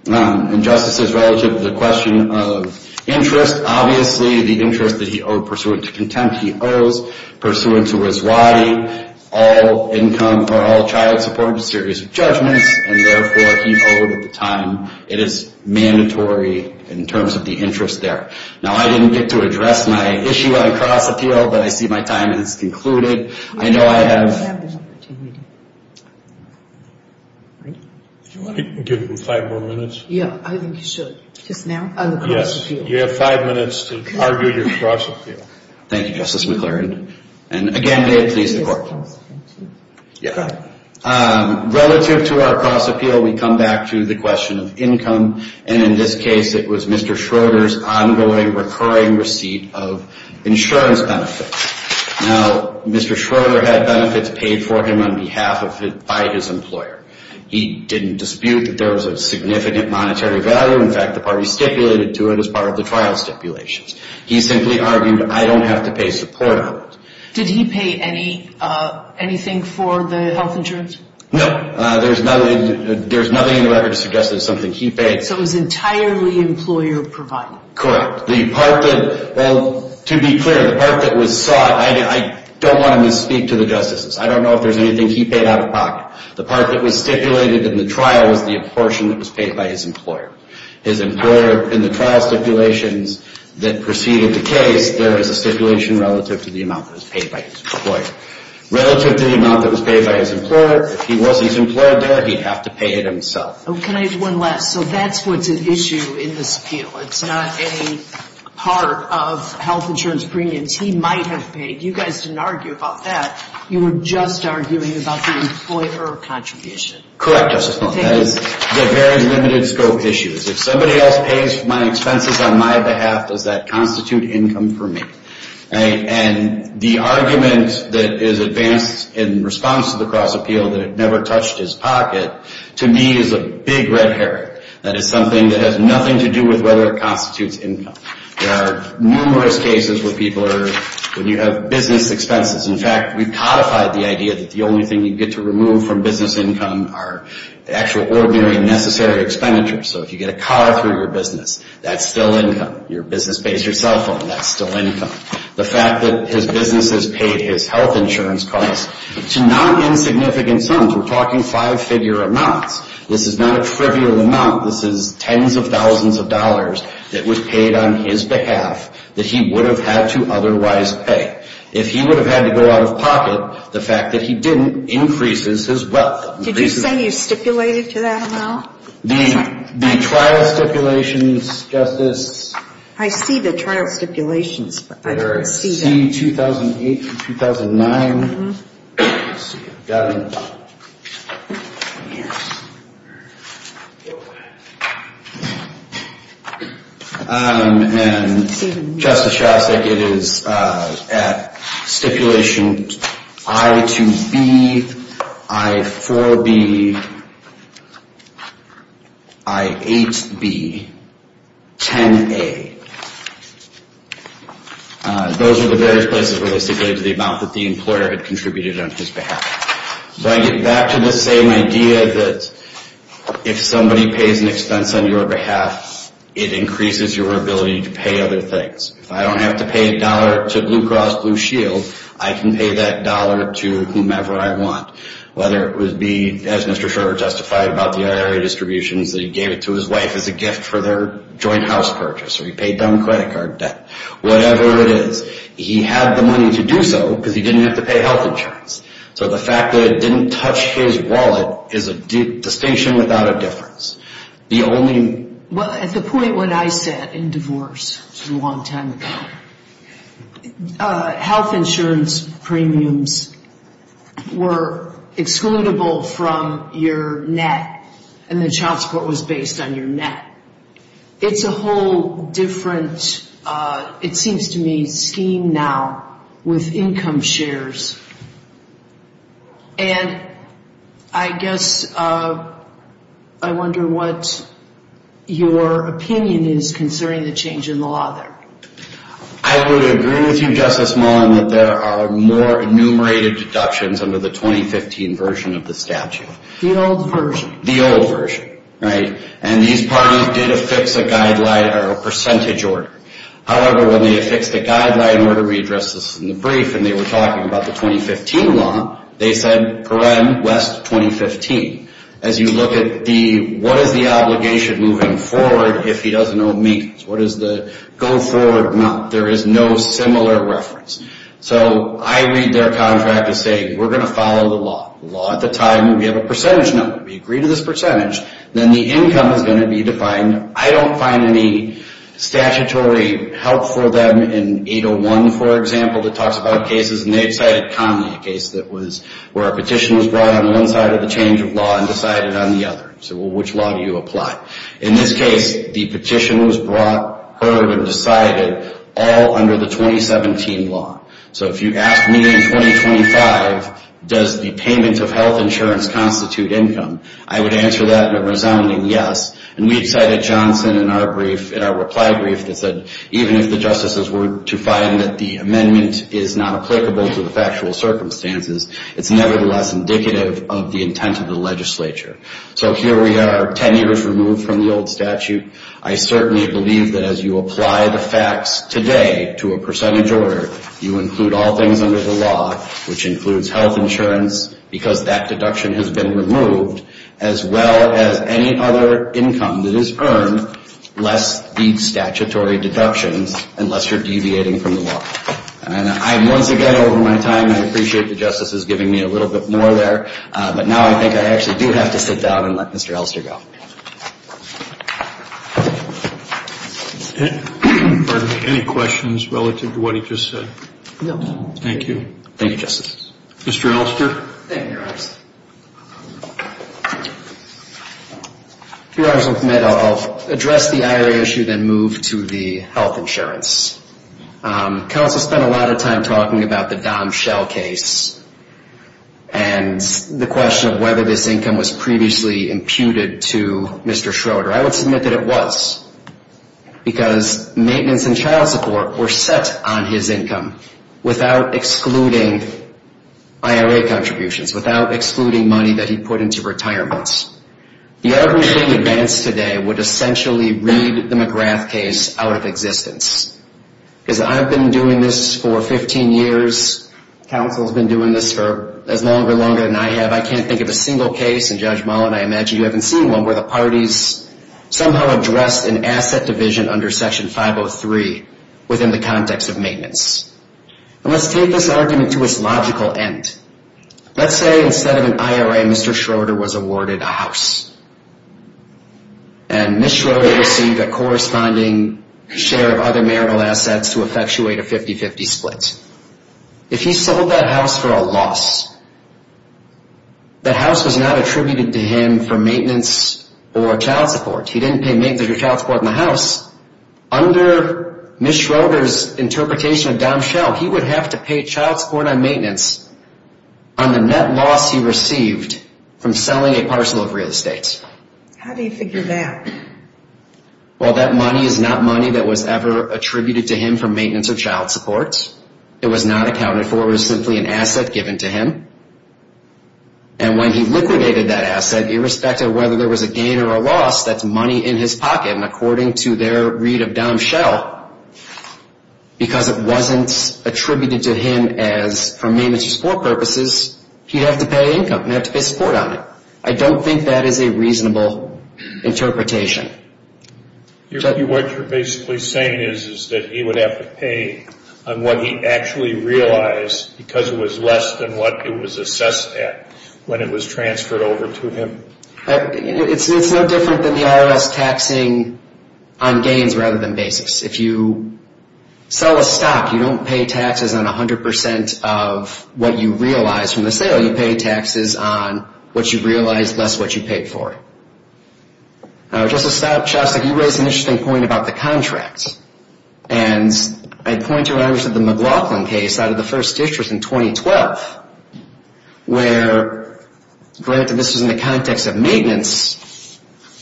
In justices relative to the question of interest, obviously the interest that he owed pursuant to contempt he owes pursuant to his why all income or all child support in a series of judgments, and therefore he owed at the time. It is mandatory in terms of the interest there. Now, I didn't get to address my issue on cross-appeal, but I see my time has concluded. I know I have Do you want to give him five more minutes? You have five minutes to argue your cross-appeal. Thank you, Justice McClure. And again, may it please the court. Relative to our cross-appeal, we come back to the question of income, and in this case it was Mr. Schroeder's ongoing recurring receipt of insurance benefits. Now, Mr. Schroeder had benefits paid for him on behalf of his employer. He didn't dispute that there was a significant monetary value. In fact, the parties stipulated to it as part of the trial stipulations. He simply argued, I don't have to pay support on it. Did he pay anything for the health insurance? No. There's nothing in the record to suggest that it's something he paid. So it was entirely employer-provided? Correct. Well, to be clear, the part that was sought, I don't want to misspeak to the justices. I don't know if there's anything he paid out of pocket. The part that was stipulated in the trial was the portion that was paid by his employer. His employer, in the trial stipulations that preceded the case, there was a stipulation relative to the amount that was paid by his employer. Relative to the amount that was paid by his employer, if he wasn't his employer there, he'd have to pay it himself. Oh, can I have one last? So that's what's at issue in this appeal. It's not a part of health insurance premiums he might have paid. You guys didn't argue about that. You were just arguing about the employer contribution. Correct, Justice Miller. That is the very limited scope issues. If somebody else pays my expenses on my behalf, does that constitute income for me? And the argument that is advanced in response to the cross appeal that it never touched his pocket, to me is a big red herring. That is something that has nothing to do with whether it constitutes income. There are numerous cases where people are, when you have business expenses. In fact, we've codified the idea that the only thing you get to remove from business income are the actual ordinary necessary expenditures. So if you get a car through your business, that's still income. Your business pays your cell phone, that's still income. The fact that his business has paid his health insurance costs to not insignificant sums, we're talking five-figure amounts. This is not a trivial amount. This is tens of thousands of dollars that was paid on his behalf that he would have had to otherwise pay. If he would have had to go out of pocket, the fact that he didn't increases his wealth. Did you say you stipulated to that amount? The trial stipulations, Justice. I see the trial stipulations, but I don't see that. They're C-2008 and 2009. And Justice Shostak, it is at stipulation I-2B, I-4B. I-8B, 10A. Those are the various places where they stipulated the amount that the employer had contributed on his behalf. So I get back to the same idea that if somebody pays an expense on your behalf, it increases your ability to pay other things. If I don't have to pay a dollar to Blue Cross Blue Shield, I can pay that dollar to whomever I want. Whether it would be, as Mr. Shorter justified, about the IRA distributions that he gave to his wife as a gift for their joint house purchase, or he paid down credit card debt, whatever it is, he had the money to do so because he didn't have to pay health insurance. So the fact that it didn't touch his wallet is a distinction without a difference. At the point when I sat in divorce, which was a long time ago, health insurance premiums were excludable from your net and the child support was based on your net. It's a whole different, it seems to me, scheme now with income shares. And I guess I wonder what your opinion is concerning the change in the law there. I would agree with you, Justice Mullin, that there are more enumerated deductions under the 2015 version of the statute. The old version. The old version, right? And these parties did affix a guideline or a percentage order. However, when they affixed a guideline order, we addressed this in the brief, and they were talking about the 2015 law, they said, paren, West, 2015. As you look at the, what is the obligation moving forward if he doesn't owe me? What is the go forward amount? There is no similar reference. So I read their contract as saying, we're going to follow the law. The law at the time, we have a percentage number. We agree to this percentage. Then the income is going to be defined. I don't find any statutory help for them in 801, for example, that talks about cases. And they cited Connelly, a case where a petition was brought on one side of the change of law and decided on the other. So which law do you apply? In this case, the petition was brought, heard, and decided all under the 2017 law. So if you ask me in 2025, does the payment of health insurance constitute income, I would answer that in a resounding yes. And we cited Johnson in our reply brief that said, even if the justices were to find that the amendment is not applicable to the factual circumstances, it's nevertheless indicative of the intent of the legislature. So here we are 10 years removed from the old statute. I certainly believe that as you apply the facts today to a percentage order, you include all things under the law, which includes health insurance, because that deduction has been removed, as well as any other income that is earned, less the statutory deductions, unless you're deviating from the law. And once again, over my time, I appreciate the justices giving me a little bit more there. But now I think I actually do have to sit down and let Mr. Elster go. Any questions relative to what he just said? Thank you. Thank you, Justice. Mr. Elster? Thank you, Your Honors. If Your Honors will permit, I'll address the IRA issue, then move to the health insurance. Counsel spent a lot of time talking about the Dom Schell case and the question of whether this income was previously imputed to Mr. Schroeder. I would submit that it was, because maintenance and child support were set on his income without excluding IRA contributions, without excluding money that he put into retirements. The argument being advanced today would essentially read the McGrath case out of existence. Because I've been doing this for 15 years, counsel's been doing this for as long or longer than I have. I can't think of a single case, and Judge Mullen, I imagine you haven't seen one, where the parties somehow addressed an asset division under Section 503 within the context of maintenance. And let's take this argument to its logical end. If Mr. Schroeder sold a house and Ms. Schroeder received a corresponding share of other marital assets to effectuate a 50-50 split, if he sold that house for a loss, that house was not attributed to him for maintenance or child support. He didn't pay maintenance or child support on the house. Under Ms. Schroeder's interpretation of Dom Schell, he would have to pay child support on maintenance on the net loss he received from selling a parcel of real estate. How do you figure that? Well, that money is not money that was ever attributed to him for maintenance or child support. It was not accounted for. It was simply an asset given to him. And when he liquidated that asset, irrespective of whether there was a gain or a loss, that's money in his pocket. And according to their read of Dom Schell, because it wasn't attributed to him for maintenance or support purposes, he'd have to pay income. He'd have to pay support on it. I don't think that is a reasonable interpretation. What you're basically saying is that he would have to pay on what he actually realized because it was less than what it was assessed at when it was transferred over to him. It's no different than the IRS taxing on gains rather than basis. If you sell a stock, you don't pay taxes on 100% of what you realize from the sale. You pay taxes on what you realize less what you paid for it. Justice Chastok, you raised an interesting point about the contract. And I'd point you to the McLaughlin case out of the First District in 2012, where, granted this was in the context of maintenance,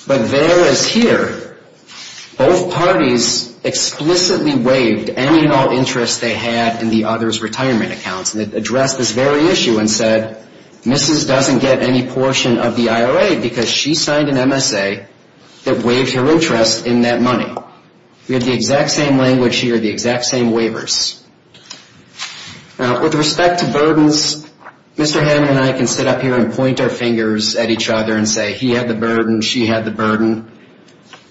but there as here, both parties explicitly waived any and all interest they had in the other's retirement accounts and addressed this very issue and said, Mrs. doesn't get any portion of the IRA because she signed an MSA that waived her interest in that money. We have the exact same language here, the exact same waivers. Now, with respect to burdens, Mr. Hamlin and I can sit up here and point our fingers at each other and say he had the burden, she had the burden.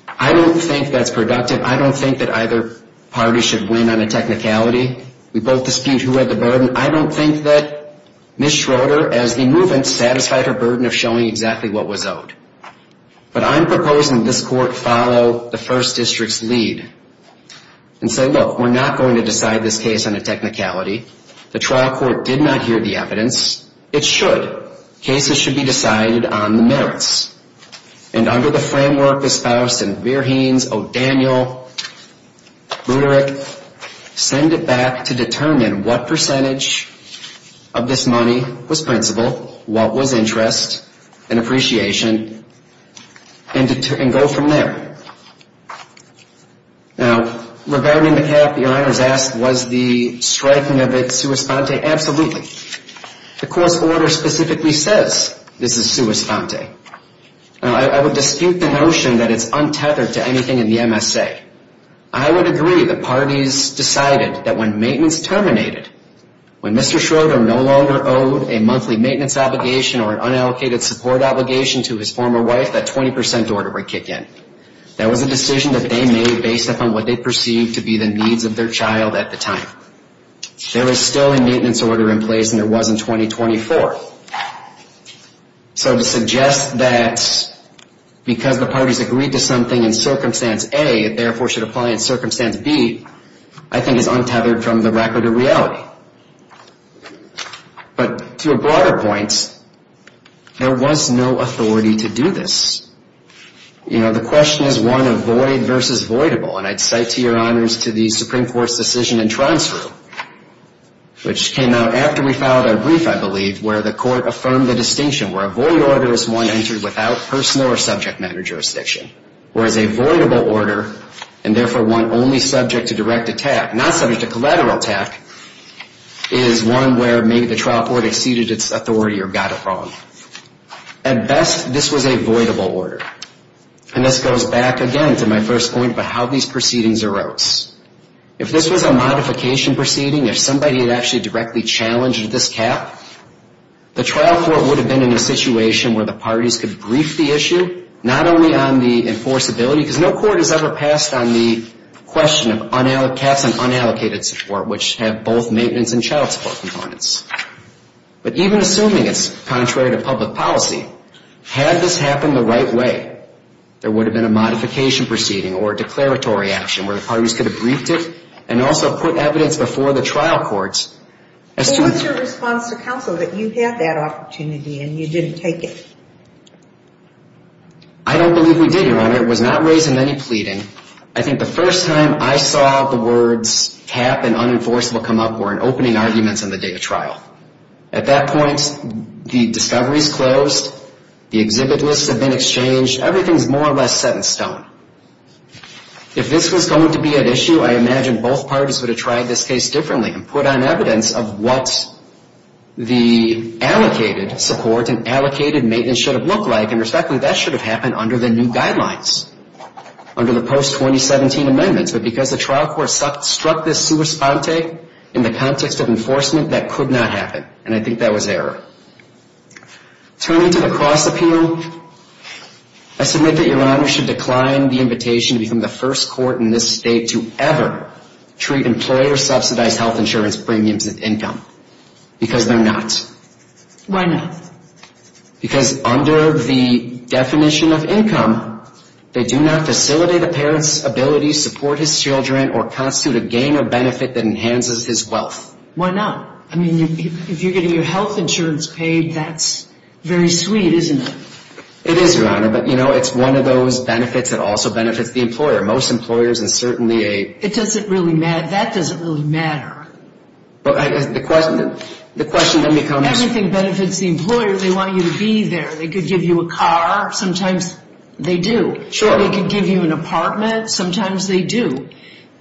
I don't think that's productive. I don't think that either party should win on a technicality. We both dispute who had the burden. I don't think that Ms. Schroeder, as the movement, satisfied her burden of showing exactly what was owed. But I'm proposing this court follow the First District's lead and say, look, we're not going to decide this case on a technicality. The trial court did not hear the evidence. It should. Cases should be decided on the merits. And under the framework espoused in Verheens, O'Daniel, Luderich, send it back to determine what percentage of this money was principal, what was interest and appreciation, and go from there. Now, regarding the cap, your Honor has asked, was the striking of it sua sponte? Absolutely. The court's order specifically says this is sua sponte. I would dispute the notion that it's untethered to anything in the MSA. I would agree that parties decided that when maintenance terminated, when Mr. Schroeder no longer owed a monthly maintenance obligation or an unallocated support obligation to his former wife, that 20% order would kick in. That was a decision that they made based upon what they perceived to be the needs of their child at the time. There was still a maintenance order in place, and there was in 2024. So to suggest that because the parties agreed to something in Circumstance A, it therefore should apply in Circumstance B, I think is untethered from the record of reality. But to a broader point, there was no authority to do this. You know, the question is one of void versus voidable. And I'd cite to your Honors to the Supreme Court's decision in Transfer, which came out after we filed our brief, I believe, where the court affirmed the distinction where a void order is one entered without personal or subject matter jurisdiction, whereas a voidable order, and therefore one only subject to direct attack, not subject to collateral attack, is one where maybe the trial court exceeded its authority or got it wrong. At best, this was a voidable order. And this goes back again to my first point about how these proceedings arose. If this was a modification proceeding, if somebody had actually directly challenged this cap, the trial court would have been in a situation where the parties could brief the issue, not only on the enforceability, because no court has ever passed on the question of caps and unallocated support, which have both maintenance and child support components. But even assuming it's contrary to public policy, had this happened the right way, there would have been a modification proceeding or a declaratory action where the parties could have briefed it and also put evidence before the trial courts. But what's your response to counsel that you had that opportunity and you didn't take it? I don't believe we did, Your Honor. It was not raised in any pleading. I think the first time I saw the words cap and unenforceable come up were in opening arguments on the day of trial. At that point, the discovery's closed, the exhibit lists have been exchanged, everything's more or less set in stone. If this was going to be at issue, I imagine both parties would have tried this case differently and put on evidence of what the allocated support and allocated maintenance should have looked like, and respectfully, that should have happened under the new guidelines, under the post-2017 amendments. But because the trial court struck this sua sponte in the context of enforcement, that could not happen. And I think that was error. Turning to the cross-appeal, I submit that Your Honor should decline the invitation to become the first court in this state to ever treat employers' subsidized health insurance premiums as income, because they're not. Why not? Because under the definition of income, they do not facilitate a parent's ability to support his children or constitute a gain or benefit that enhances his wealth. Why not? I mean, if you're getting your health insurance paid, that's very sweet, isn't it? It is, Your Honor, but, you know, it's one of those benefits that also benefits the employer. Most employers, and certainly a... That doesn't really matter. Everything benefits the employer. They want you to be there. They could give you a car. Sometimes they do. They could give you an apartment. Sometimes they do.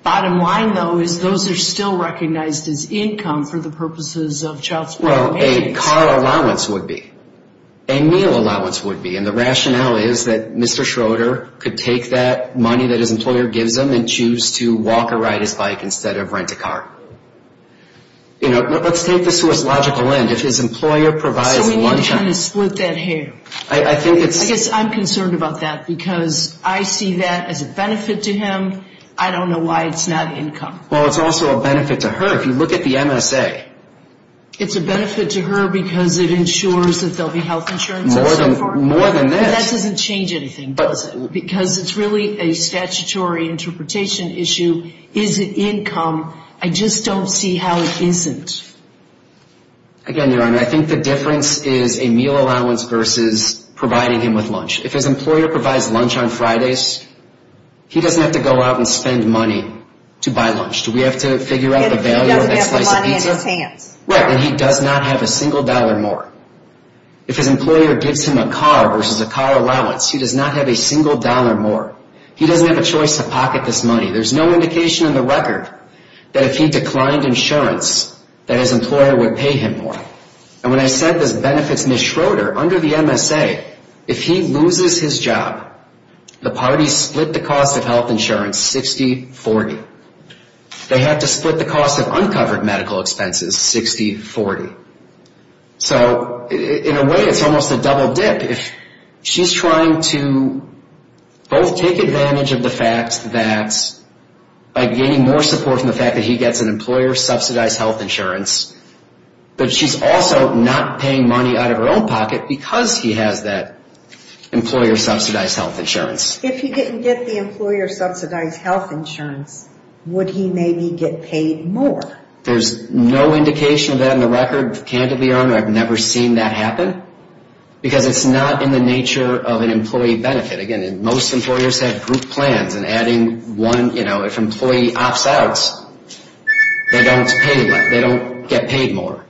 Bottom line, though, is those are still recognized as income for the purposes of child support payments. Well, a car allowance would be. A meal allowance would be. And the rationale is that Mr. Schroeder could take that money that his employer gives him and choose to walk or ride his bike instead of rent a car. You know, let's take this to its logical end. If his employer provides lunch... I guess I'm concerned about that because I see that as a benefit to him. I don't know why it's not income. It's a benefit to her because it ensures that there will be health insurance and so forth. More than this. That doesn't change anything, because it's really a statutory interpretation issue. Is it income? I just don't see how it isn't. Again, Your Honor, I think the difference is a meal allowance versus providing him with lunch. If his employer provides lunch on Fridays, he doesn't have to go out and spend money to buy lunch. Do we have to figure out the value of a slice of pizza? Right, and he does not have a single dollar more. If his employer gives him a car versus a car allowance, he does not have a single dollar more. He doesn't have a choice to pocket this money. There's no indication in the record that if he declined insurance, that his employer would pay him more. And when I said this benefits Ms. Schroeder, under the MSA, if he loses his job, the parties split the cost of health insurance 60-40. They have to split the cost of uncovered medical expenses 60-40. So in a way, it's almost a double dip. She's trying to both take advantage of the fact that by gaining more support from the fact that he gets an employer-subsidized health insurance, but she's also not paying money out of her own pocket because he has that employer-subsidized health insurance. If he didn't get the employer-subsidized health insurance, would he maybe get paid more? There's no indication of that in the record, candidly, Your Honor. I've never seen that happen because it's not in the nature of an employee benefit. Again, most employers have group plans, and adding one, you know, if an employee opts out, they don't get paid more.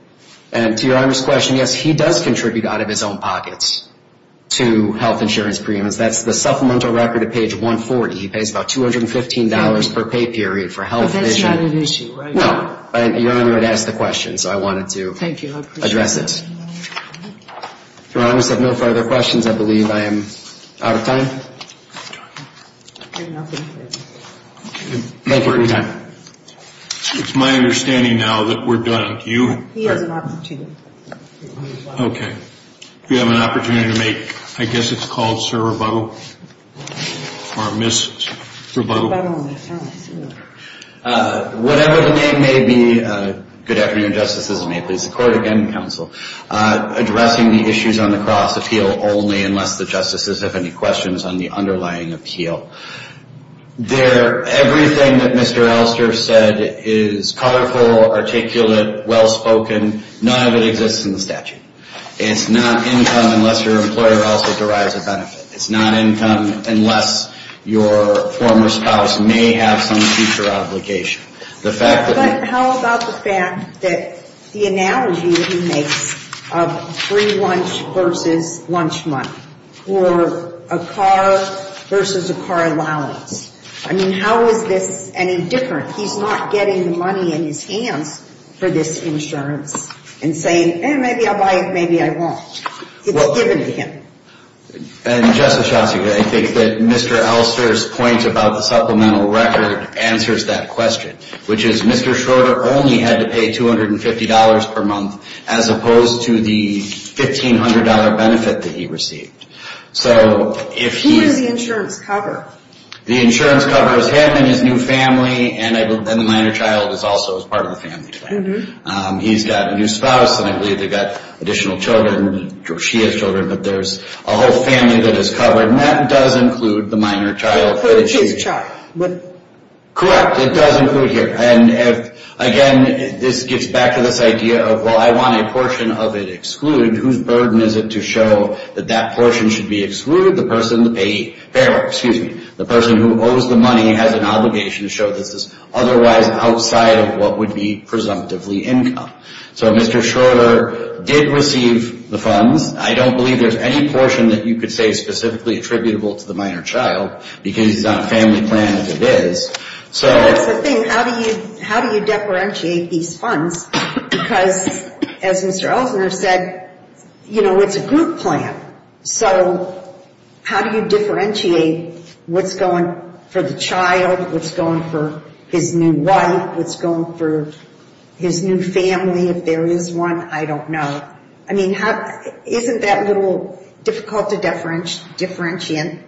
And to Your Honor's question, yes, he does contribute out of his own pockets to health insurance premiums. He has a supplemental record at page 140. He pays about $215 per pay period for health insurance. But that's not an issue, right? No, but Your Honor had asked the question, so I wanted to address it. If Your Honor has no further questions, I believe I am out of time. Thank you for your time. It's my understanding now that we're done. Okay. We have an opportunity to make, I guess it's called, sir rebuttal? Or miss rebuttal? Whatever the name may be, good afternoon, Justices. May it please the Court again, Counsel. Addressing the issues on the cross appeal only unless the Justices have any questions on the underlying appeal. Everything that Mr. Elster said is colorful, articulate, well-spoken, none of it exists in the statute. It's not income unless your employer also derives a benefit. It's not income unless your former spouse may have some future obligation. But how about the fact that the analogy that he makes of free lunch versus lunch money, or a car versus a car allowance? I mean, how is this any different? He's not getting the money in his hands for this insurance and saying, hey, maybe I'll buy it, maybe I won't. It's given to him. And Justice Schotzik, I think that Mr. Elster's point about the supplemental record answers that question, which is Mr. Schroeder only had to pay $250 per month, as opposed to the $1,500 benefit that he received. Who does the insurance cover? The insurance covers him and his new family, and the minor child is also a part of the family today. He's got a new spouse, and I believe they've got additional children. She has children, but there's a whole family that is covered. And that does include the minor child. Correct, it does include here. And again, this gets back to this idea of, well, I want a portion of it excluded. Whose burden is it to show that that portion should be excluded? The person who owes the money has an obligation to show that this is otherwise outside of what would be presumptively income. So Mr. Schroeder did receive the funds. I don't believe there's any portion that you could say is specifically attributable to the minor child, because he's on a family plan as it is. Well, that's the thing. How do you differentiate these funds? Because as Mr. Elsner said, you know, it's a group plan. So how do you differentiate what's going for the child, what's going for his new wife, what's going for his new family, if there is one? I don't know. I mean, isn't that a little difficult to differentiate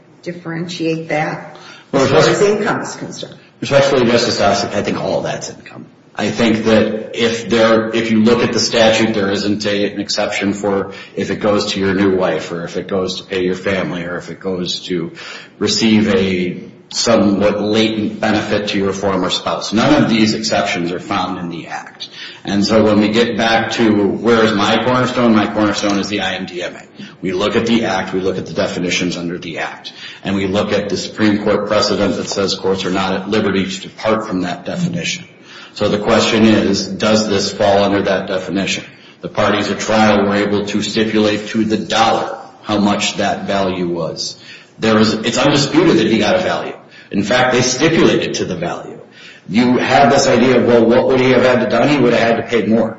that as far as income is concerned? Especially Justice Ossoff, I think all that's income. I think that if you look at the statute, there isn't an exception for if it goes to your new wife or if it goes to pay your family or if it goes to receive a somewhat latent benefit to your former spouse. None of these exceptions are found in the Act. And so when we get back to where is my cornerstone, my cornerstone is the IMDMA. We look at the Act, we look at the definitions under the Act, and we look at the Supreme Court precedent that says courts are not at liberty to depart from that definition. So the question is, does this fall under that definition? The parties at trial were able to stipulate to the dollar how much that value was. It's undisputed that he got a value. In fact, they stipulated to the value. You have this idea of, well, what would he have had to done? He would have had to pay more.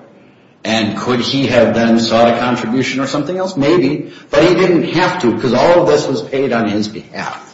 And could he have then sought a contribution or something else? Maybe, but he didn't have to, because all of this was paid on his behalf.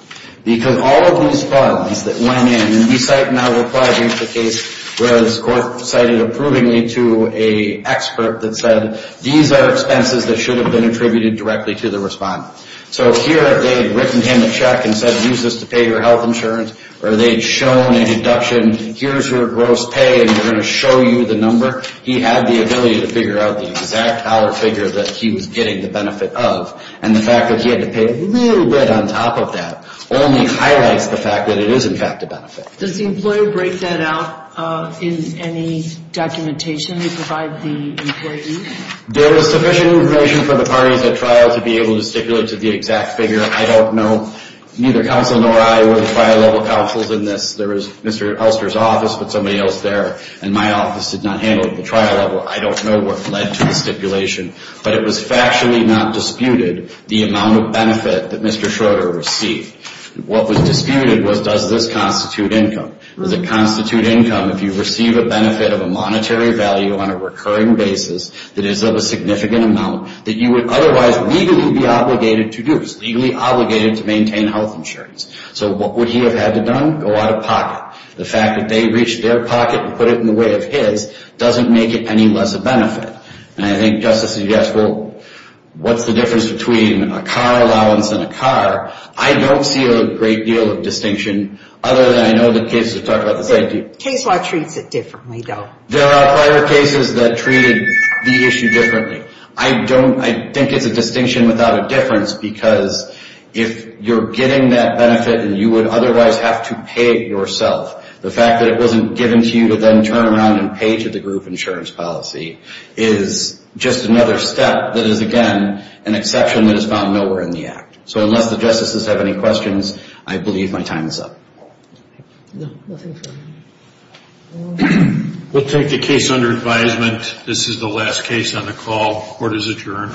Because all of these funds that went in, and the site now replies into the case, where the court cited approvingly to an expert that said, these are expenses that should have been attributed directly to the respondent. So here they had written him a check and said, use this to pay your health insurance. Or they had shown a deduction, here's your gross pay, and we're going to show you the number. He had the ability to figure out the exact dollar figure that he was getting the benefit of. And the fact that he had to pay a little bit on top of that only highlights the fact that it is, in fact, a benefit. Does the employer break that out in any documentation they provide the employee? There is sufficient information for the parties at trial to be able to stipulate to the exact figure. I don't know, neither counsel nor I were trial-level counsels in this. There was Mr. Elster's office, but somebody else there in my office did not handle it at the trial level. I don't know what led to the stipulation, but it was factually not disputed the amount of benefit that Mr. Schroeder received. What was disputed was, does this constitute income? Does it constitute income if you receive a benefit of a monetary value on a recurring basis that is of a significant amount that you would otherwise legally be obligated to do? It's legally obligated to maintain health insurance. So what would he have had to done? Go out of pocket. The fact that they reached their pocket and put it in the way of his doesn't make it any less a benefit. And I think just to suggest, well, what's the difference between a car allowance and a car? I don't see a great deal of distinction, other than I know the cases have talked about the safety. Case law treats it differently, though. There are prior cases that treated the issue differently. I think it's a distinction without a difference, because if you're getting that benefit and you would otherwise have to pay it yourself, the fact that it wasn't given to you to then turn around and pay to the group insurance policy is just another step that is, again, an exception that is found nowhere in the Act. So unless the Justices have any questions, I believe my time is up. We'll take the case under advisement. This is the last case on the call. Court is adjourned.